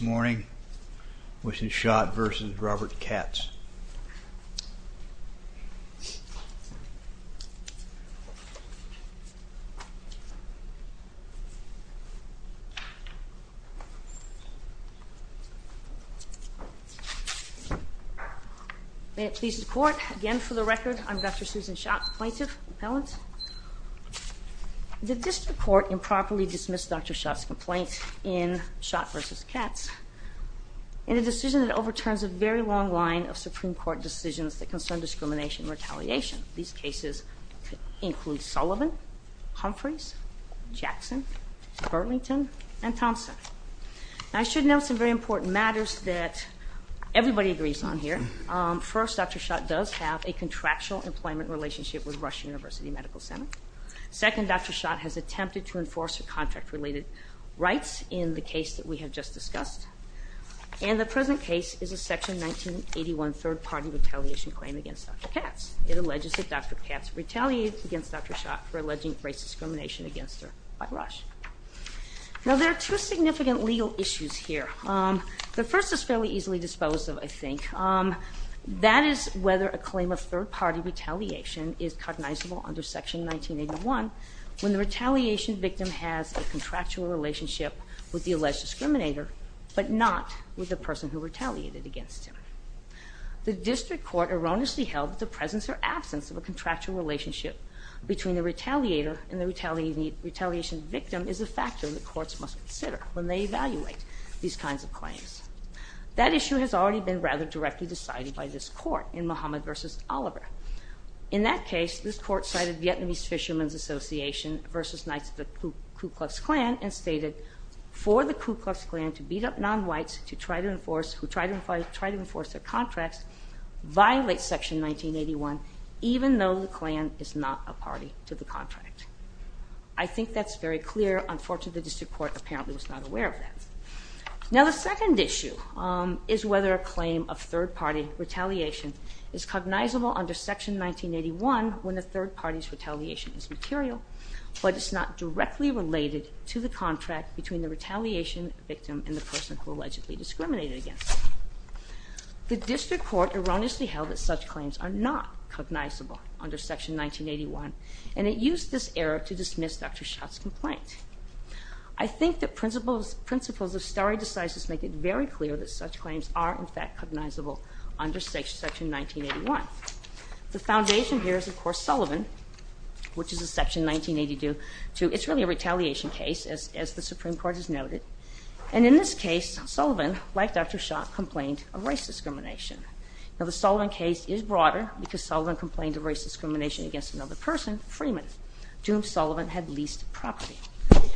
May it please the Court, again for the record, I'm Dr. Susan Shott, plaintiff, appellant. The District Court improperly dismissed Dr. Shott's complaint in Shott v. Katz in a decision that overturns a very long line of Supreme Court decisions that concern discrimination and retaliation. These cases include Sullivan, Humphreys, Jackson, Burlington, and Thompson. I should note some very important matters that everybody agrees on here. First, Dr. Shott does have a contractual employment relationship with Rush University Medical Center. Second, Dr. Shott has attempted to enforce her contract related rights in the case that we have just discussed. And the present case is a section 1981 third party retaliation claim against Dr. Katz. It alleges that Dr. Katz retaliated against Dr. Shott for alleging race discrimination against her by Rush. Now there are two significant legal issues here. The first is fairly easily disposed of, I think. That is whether a claim of third party retaliation is cognizable under section 1981 when the retaliation victim has a contractual relationship with the alleged discriminator, but not with the person who retaliated against him. The district court erroneously held that the presence or absence of a contractual relationship between the retaliator and the retaliation victim is a factor that courts must consider when they evaluate these kinds of claims. That issue has already been rather directly decided by this court in Muhammad versus Oliver. In that case, this court cited Vietnamese Fisherman's Association versus Knights of the Ku Klux Klan and who tried to enforce their contracts violate section 1981 even though the Klan is not a party to the contract. I think that's very clear. Unfortunately, the district court apparently was not aware of that. Now the second issue is whether a claim of third party retaliation is cognizable under section 1981 when the third party's retaliation is material, but it's not directly related to the contract between the retaliation victim and the person who allegedly discriminated against him. The district court erroneously held that such claims are not cognizable under section 1981, and it used this error to dismiss Dr. Schott's complaint. I think that principles of stare decisis make it very clear that such claims are, in fact, cognizable under section 1981. The foundation here is, of course, Sullivan, which is a section 1982. It's really a retaliation case, as the Supreme Court has noted. And in this case, Sullivan, like Dr. Schott, complained of race discrimination. Now the Sullivan case is broader because Sullivan complained of race discrimination against another person, Freeman, to whom Sullivan had leased property.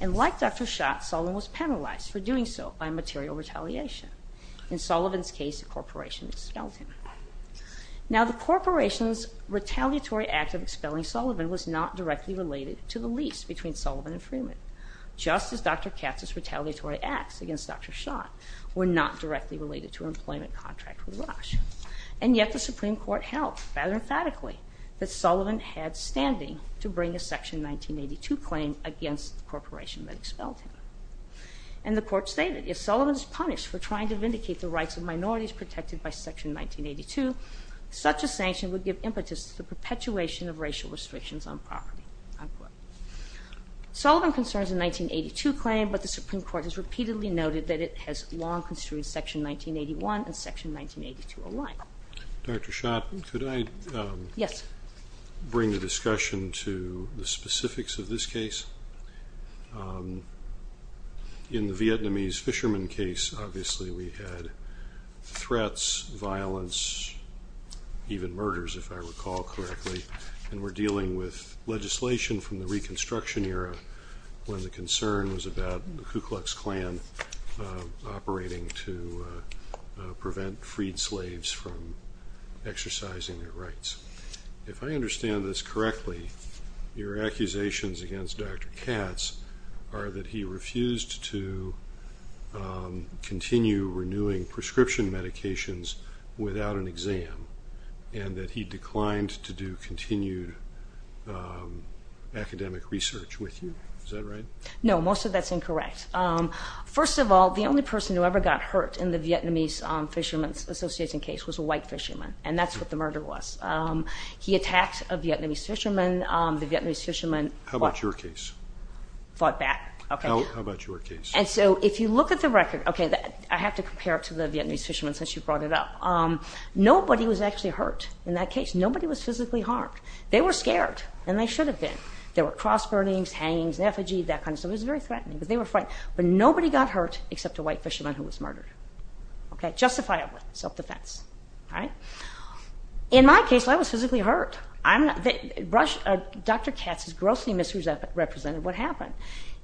And like Dr. Schott, Sullivan was penalized for doing so by material retaliation. In Sullivan's case, a corporation expelled him. Now the corporation's retaliatory act of expelling Sullivan was not directly related to the lease between Sullivan and Freeman. Just as Dr. Katz's retaliatory acts against Dr. Schott were not directly related to an employment contract with Rush. And yet the Supreme Court held, rather emphatically, that Sullivan had standing to bring a section 1982 claim against the corporation that expelled him. And the court stated, if Sullivan is punished for trying to vindicate the rights of minorities protected by section 1982, such a sanction would give impetus to the perpetuation of racial restrictions on property. Sullivan concerns a 1982 claim, but the Supreme Court has repeatedly noted that it has long construed section 1981 and section 1982 alike. Dr. Schott, could I bring the discussion to the specifics of this case? In the Vietnamese fisherman case, obviously we had threats, violence, even murders, if I recall correctly. And we're dealing with legislation from the Reconstruction era, when the concern was about the Ku Klux Klan operating to prevent freed slaves from exercising their rights. If I understand this correctly, your accusations against Dr. Katz are that he refused to continue renewing prescription medications without an exam, and that he declined to do continued academic research with you. Is that right? No, most of that's incorrect. First of all, the only person who ever got hurt in the Vietnamese Fisherman's Association case was a white fisherman, and that's what the murder was. He attacked a Vietnamese fisherman. How about your case? Fought back. How about your case? And so if you look at the record, I have to compare it to the Vietnamese fisherman since you brought it up. Nobody was actually hurt in that case. Nobody was physically harmed. They were scared, and they should have been. There were cross burnings, hangings, an effigy, that kind of stuff. It was very threatening, but they were fine. But nobody got hurt except a white fisherman who was murdered. Justifiable, self-defense. In my case, I was physically hurt. Dr. Katz's grossly misrepresented what happened.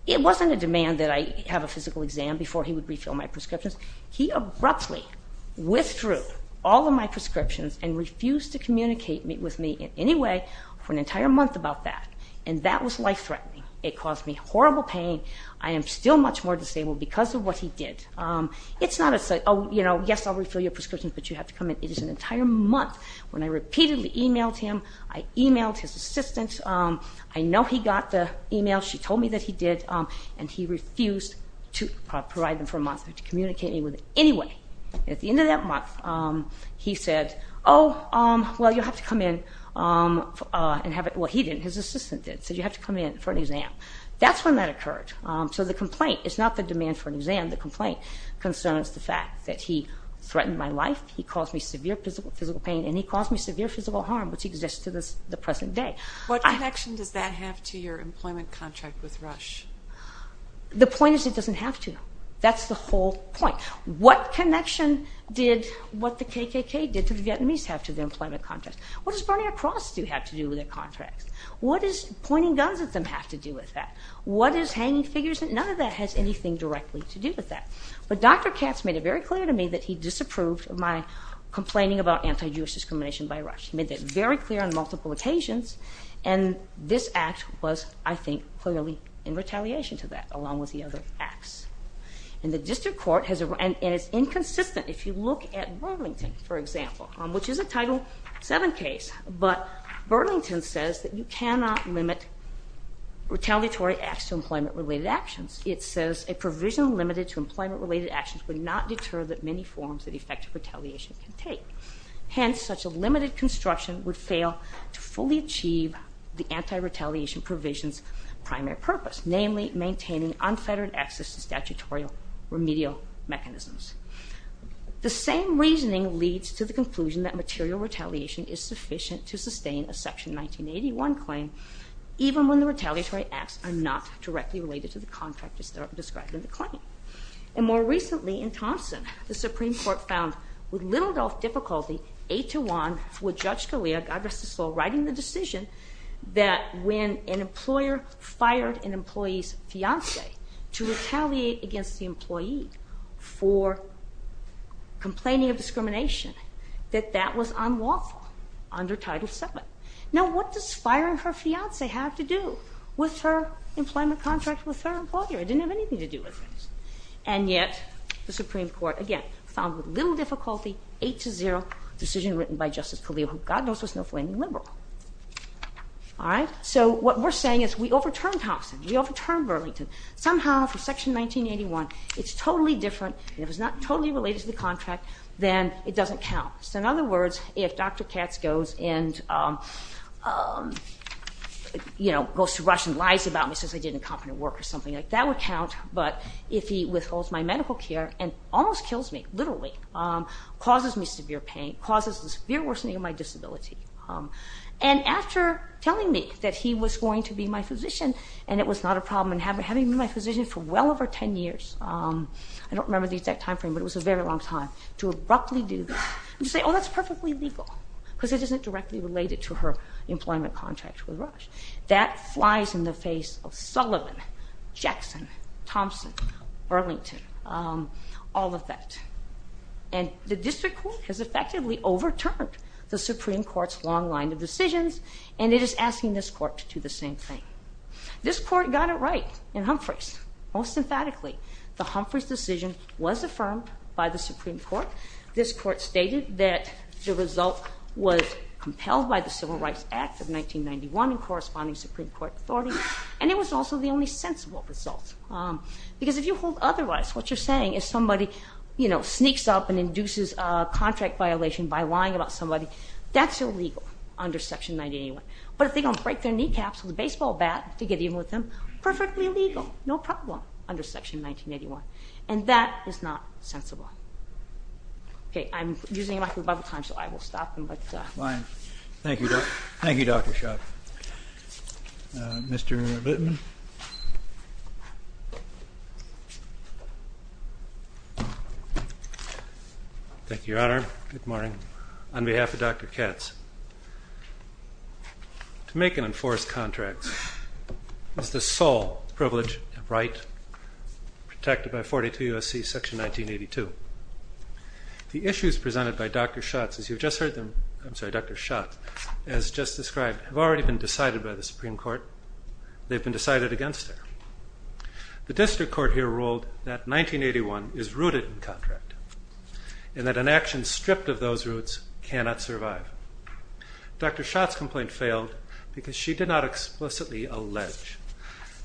It wasn't a demand that I have a physical exam before he would refill my prescriptions. He abruptly withdrew all of my prescriptions and refused to communicate with me in any way for an entire month about that. And that was life-threatening. It caused me horrible pain. I am still much more disabled because of what he did. It's not a, oh, you know, yes, I'll refill your prescriptions, but you have to come in. It is an entire month when I repeatedly emailed him. I emailed his assistant. I know he got the email. She told me that he did, and he refused to provide them for a month to communicate with me in any way. At the end of that month, he said, oh, well, you'll have to come in and have it. Well, he didn't. His assistant did. He said, you have to come in for an exam. That's when that occurred. So the complaint is not the demand for an exam. The complaint concerns the fact that he threatened my life. He caused me severe physical pain, and he caused me severe physical harm, which exists to the present day. What connection does that have to your employment contract with Rush? The point is it doesn't have to. That's the whole point. What connection did what the KKK did to the Vietnamese have to their employment contracts? What does burning a cross do have to do with their contracts? What does pointing guns at them have to do with that? What is hanging figures? None of that has anything directly to do with that. But Dr. Katz made it very clear to me that he disapproved of my complaining about anti-Jewish discrimination by Rush. He made that very clear on multiple occasions. And this act was, I think, clearly in retaliation to that, along with the other acts. And the district court has, and it's inconsistent. If you look at Burlington, for example, which is a Title VII case, but Burlington says that you cannot limit retaliatory acts to employment-related actions. It says a provision limited to employment-related actions would not deter the many forms that effective retaliation can take. Hence, such a limited construction would fail to fully achieve the anti-retaliation provision's primary purpose, namely maintaining unfettered access to statutory remedial mechanisms. The same reasoning leads to the conclusion that material retaliation is sufficient to sustain a Section 1981 claim, even when the retaliatory acts are not directly related to the contractors that are describing the claim. And more recently, in Thompson, the Supreme Court found, with little to no difficulty, 8 to 1, with Judge Scalia, God rest his soul, writing the decision that when an employer fired an employee's fiancé to retaliate against the employee for complaining of discrimination, that that was unlawful under Title VII. Now, what does firing her fiancé have to do with her employment contract with her employer? It didn't have anything to do with this. And yet, the Supreme Court, again, found with little difficulty, 8 to 0, decision written by Justice Scalia, who, God knows, was no flaming liberal. All right? So what we're saying is we overturned Thompson. We overturned Burlington. Somehow, for Section 1981, it's totally different. If it's not totally related to the contract, then it doesn't count. So in other words, if Dr. Katz goes and, you know, goes to Russia and lies about me says I did incompetent work or something like that, that would count. But if he withholds my medical care and almost kills me, literally, causes me severe pain, causes the severe worsening of my disability, and after telling me that he was going to be my physician and it was not a problem and having been my physician for well over 10 years, I don't remember the exact time frame, but it was a very long time, to abruptly do this and to say, oh, that's perfectly legal because it isn't directly related to her employment contract with Rush. That flies in the face of Sullivan, Jackson, Thompson, Burlington, all of that. And the district court has effectively overturned the Supreme Court's long line of decisions, and it is asking this court to do the same thing. This court got it right in Humphreys, most emphatically. The Humphreys decision was affirmed by the Supreme Court. This court stated that the result was compelled by the Civil Rights Act of 1991 in corresponding Supreme Court authority, and it was also the only sensible result. Because if you hold otherwise, what you're saying is somebody, you know, sneaks up and induces a contract violation by lying about somebody, that's illegal under Section 1981. But if they don't break their kneecaps with a baseball bat to get even with them, perfectly legal, no problem, under Section 1981. And that is not sensible. Okay, I'm using up my time, so I will stop. Thank you, Dr. Schott. Mr. Bittman? Thank you, Your Honor. Good morning. On behalf of Dr. Katz, to make and enforce contracts is the sole privilege and right protected by 42 U.S.C. Section 1982. The issues presented by Dr. Schott, as you've just heard them, I'm sorry, Dr. Schott, as just described, have already been decided by the Supreme Court. They've been decided against there. The district court here ruled that 1981 is rooted in contract, and that an action stripped of those roots cannot survive. Dr. Schott's complaint failed because she did not explicitly allege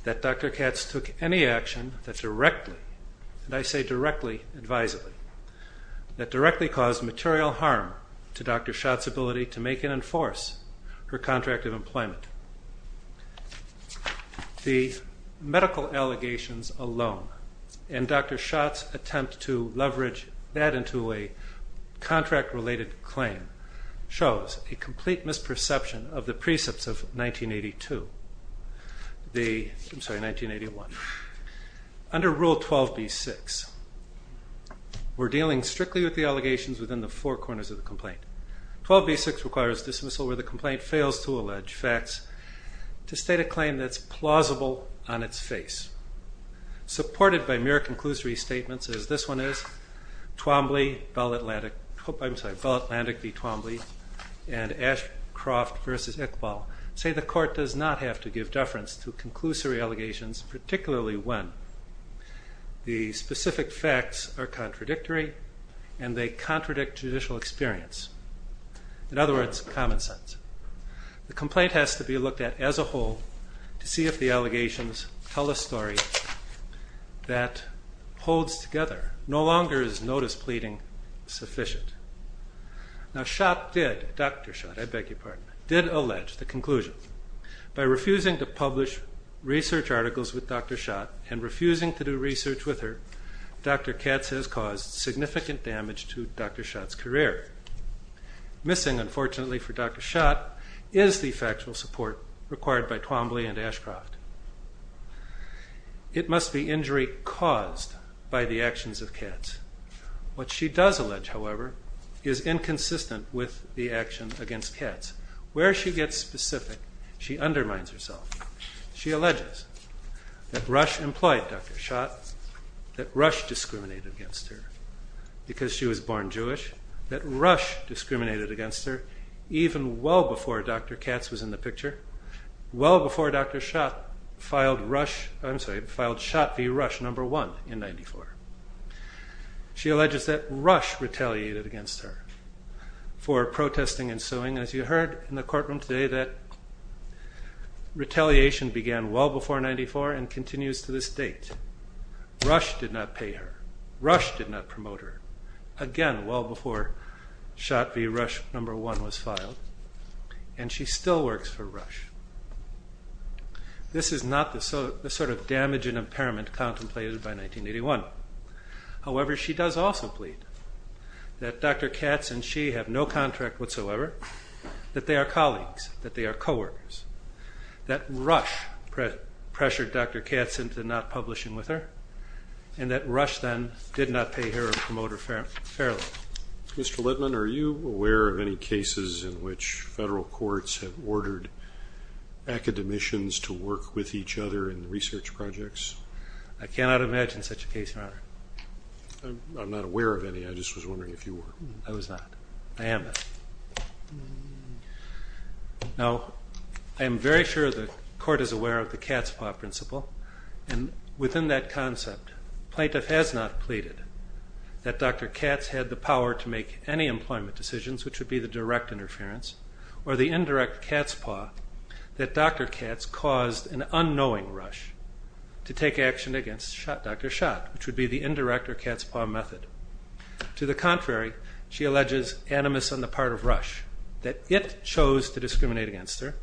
that Dr. Katz took any action that directly, and I say directly, advisedly, that directly caused material harm to Dr. Schott's ability to make and enforce her contract of employment. The medical allegations alone, and Dr. Schott's attempt to leverage that into a contract-related claim, shows a complete misperception of the precepts of 1982. I'm sorry, 1981. Under Rule 12b-6, we're dealing strictly with the allegations within the four corners of the complaint. 12b-6 requires dismissal where the complaint fails to allege facts to state a claim that's plausible on its face. Supported by mere conclusory statements, as this one is, Twombly, Bell Atlantic v. Twombly, and Ashcroft v. Iqbal say the court does not have to give deference to conclusory allegations, particularly when the specific facts are contradictory and they contradict judicial experience. In other words, common sense. The complaint has to be looked at as a whole to see if the allegations tell a story that holds together. No longer is notice pleading sufficient. Now, Schott did, Dr. Schott, I beg your pardon, did allege the conclusion. By refusing to publish research articles with Dr. Schott and refusing to do research with her, Dr. Katz has caused significant damage to Dr. Schott's career. Missing, unfortunately for Dr. Schott, is the factual support required by Twombly and Ashcroft. It must be injury caused by the actions of Katz. What she does allege, however, is inconsistent with the action against Katz. Where she gets specific, she undermines herself. She alleges that Rush employed Dr. Schott, that Rush discriminated against her because she was born Jewish, that Rush discriminated against her even well before Dr. Katz was in the picture, well before Dr. Schott filed Schott v. Rush number one in 94. She alleges that Rush retaliated against her for protesting and suing. As you heard in the courtroom today, that retaliation began well before 94 and continues to this date. Rush did not pay her. Rush did not promote her. Again, well before Schott v. Rush number one was filed. And she still works for Rush. This is not the sort of damage and impairment contemplated by 1981. However, she does also plead that Dr. Katz and she have no contract whatsoever, that they are colleagues, that they are co-workers, that Rush pressured Dr. Katz into not publishing with her, and that Rush then did not pay her or promote her fairly. Mr. Littman, are you aware of any cases in which federal courts have ordered academicians to work with each other in research projects? I cannot imagine such a case, Your Honor. I'm not aware of any. I just was wondering if you were. I was not. I am not. Now, I am very sure the Court is aware of the cat's paw principle. And within that concept, plaintiff has not pleaded that Dr. Katz had the power to make any employment decisions, which would be the direct interference, or the indirect cat's paw, that Dr. Katz caused an unknowing Rush to take action against Dr. Schott, which would be the indirect or cat's paw method. To the contrary, she alleges, animus on the part of Rush, that it chose to discriminate against her,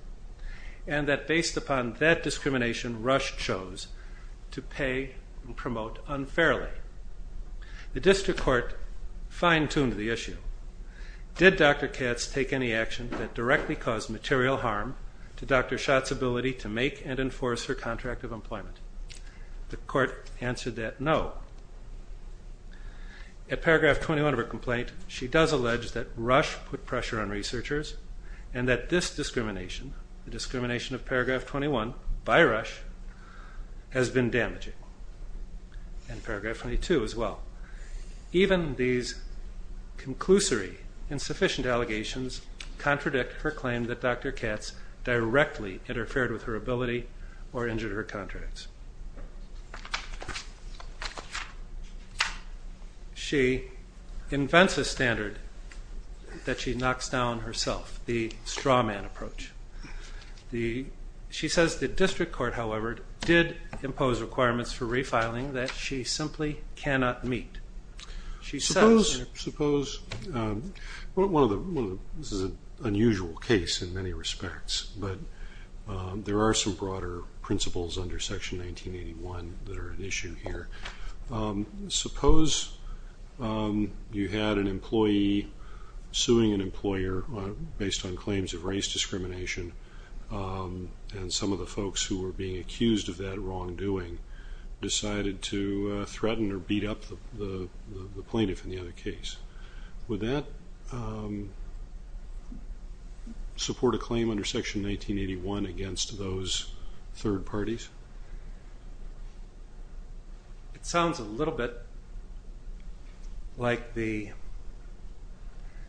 and that based upon that discrimination, Rush chose to pay and promote unfairly. The district court fine-tuned the issue. Did Dr. Katz take any action that directly caused material harm to Dr. Schott's ability to make and enforce her contract of employment? The court answered that no. At paragraph 21 of her complaint, she does allege that Rush put pressure on researchers, and that this discrimination, the discrimination of paragraph 21 by Rush, has been damaging. And paragraph 22 as well. Even these conclusory insufficient allegations contradict her claim that Dr. Katz directly interfered with her ability or injured her contracts. She invents a standard that she knocks down herself, the straw man approach. She says the district court, however, did impose requirements for refiling that she simply cannot meet. This is an unusual case in many respects, but there are some broader principles under section 1981 that are at issue here. Suppose you had an employee suing an employer based on claims of race discrimination, and some of the folks who were being accused of that wrongdoing decided to threaten or beat up the plaintiff in the other case. Would that support a claim under section 1981 against those third parties? It sounds a little bit like the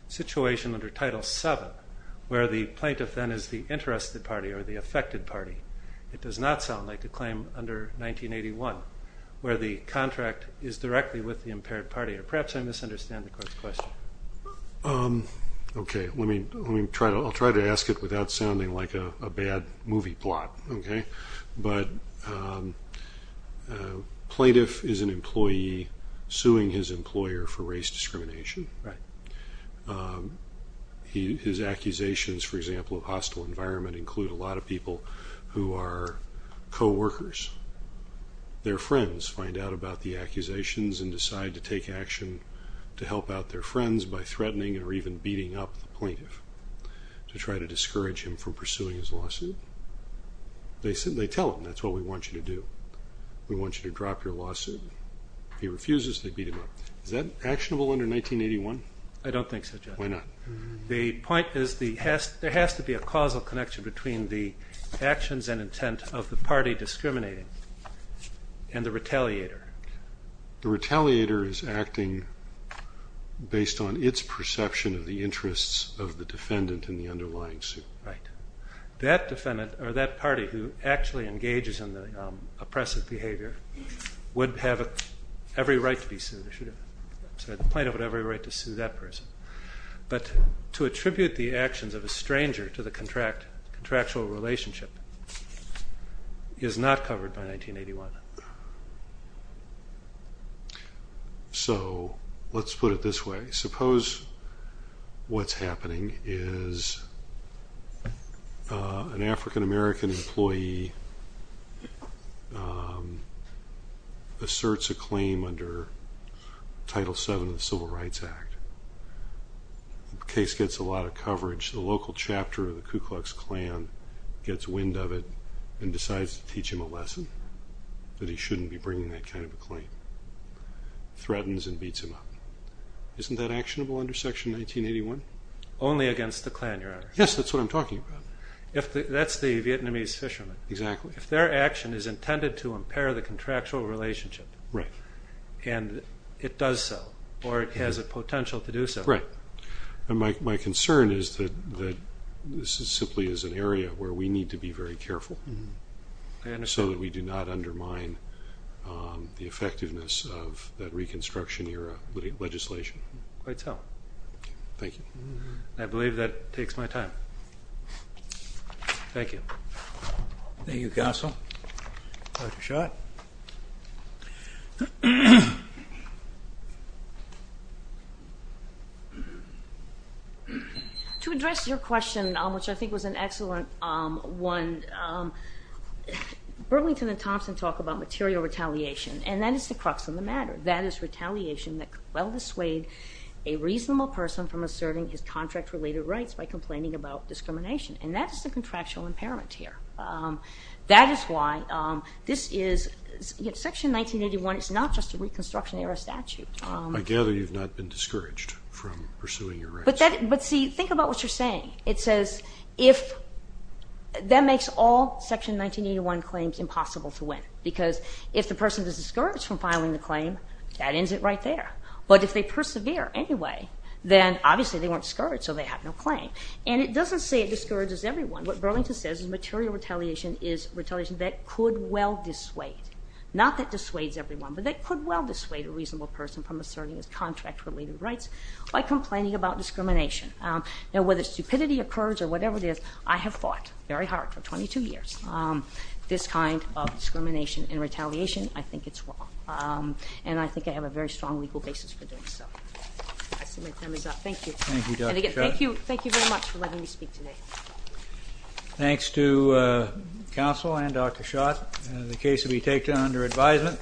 situation under title 7 where the plaintiff then is the interested party or the affected party. It does not sound like a claim under 1981 where the contract is directly with the impaired party. Perhaps I misunderstand the court's question. I'll try to ask it without sounding like a bad movie plot. Plaintiff is an employee suing his employer for race discrimination. His accusations, for example, of hostile environment include a lot of people who are co-workers. Their friends find out about the accusations and decide to take action to help out their friends by threatening or even beating up the plaintiff to try to discourage him from pursuing his lawsuit. They tell him, that's what we want you to do. We want you to drop your lawsuit. He refuses, they beat him up. Is that actionable under 1981? There has to be a causal connection between the actions and intent of the party discriminating and the retaliator. The retaliator is acting based on its perception of the interests of the defendant in the underlying suit. That party who actually engages in the oppressive behavior would have every right to be sued. The plaintiff would have every right to sue that person. But to attribute the actions of a stranger to the contractual relationship is not covered by 1981. So, let's put it this way. Suppose what's happening is an African-American employee asserts a claim under Title VII of the Civil Rights Act. The case gets a lot of coverage. The local chapter of the Ku Klux Klan gets wind of it and decides to teach him a lesson that he shouldn't be bringing that kind of a claim. Threatens and beats him up. Isn't that actionable under Section 1981? Only against the Klan, Your Honor. Yes, that's what I'm talking about. If their action is intended to impair the contractual relationship and it does so, or has the potential to do so. My concern is that this is simply an area where we need to be very careful so that we do not undermine the effectiveness of that Reconstruction Era legislation. Thank you. I believe that takes my time. Thank you. Thank you, Counsel. To address your question, which I think was an excellent one, Burlington and Thompson talk about material retaliation and that is the crux of the matter. That is retaliation that could well dissuade a reasonable person from asserting his contract related rights by complaining about discrimination. That is the contractual impairment here. Section 1981 is not just a Reconstruction Era statute. I gather you've not been discouraged from pursuing your rights. Think about what you're saying. That makes all Section 1981 claims impossible to win because if the person is discouraged from filing the claim, that ends it right there. But if they persevere anyway, then obviously they weren't discouraged so they have no claim. And it doesn't say it discourages everyone. What Burlington says is material retaliation is retaliation that could well dissuade a reasonable person from asserting his contract related rights by complaining about discrimination. Whether stupidity occurs or whatever it is, I have fought very hard for 22 years. This kind of discrimination and retaliation, I think it's wrong. And I think I have a very strong legal basis for doing so. Thank you. Thank you very much for letting me speak today. Thanks to counsel and Dr. Schott. The case will be taken under advisement.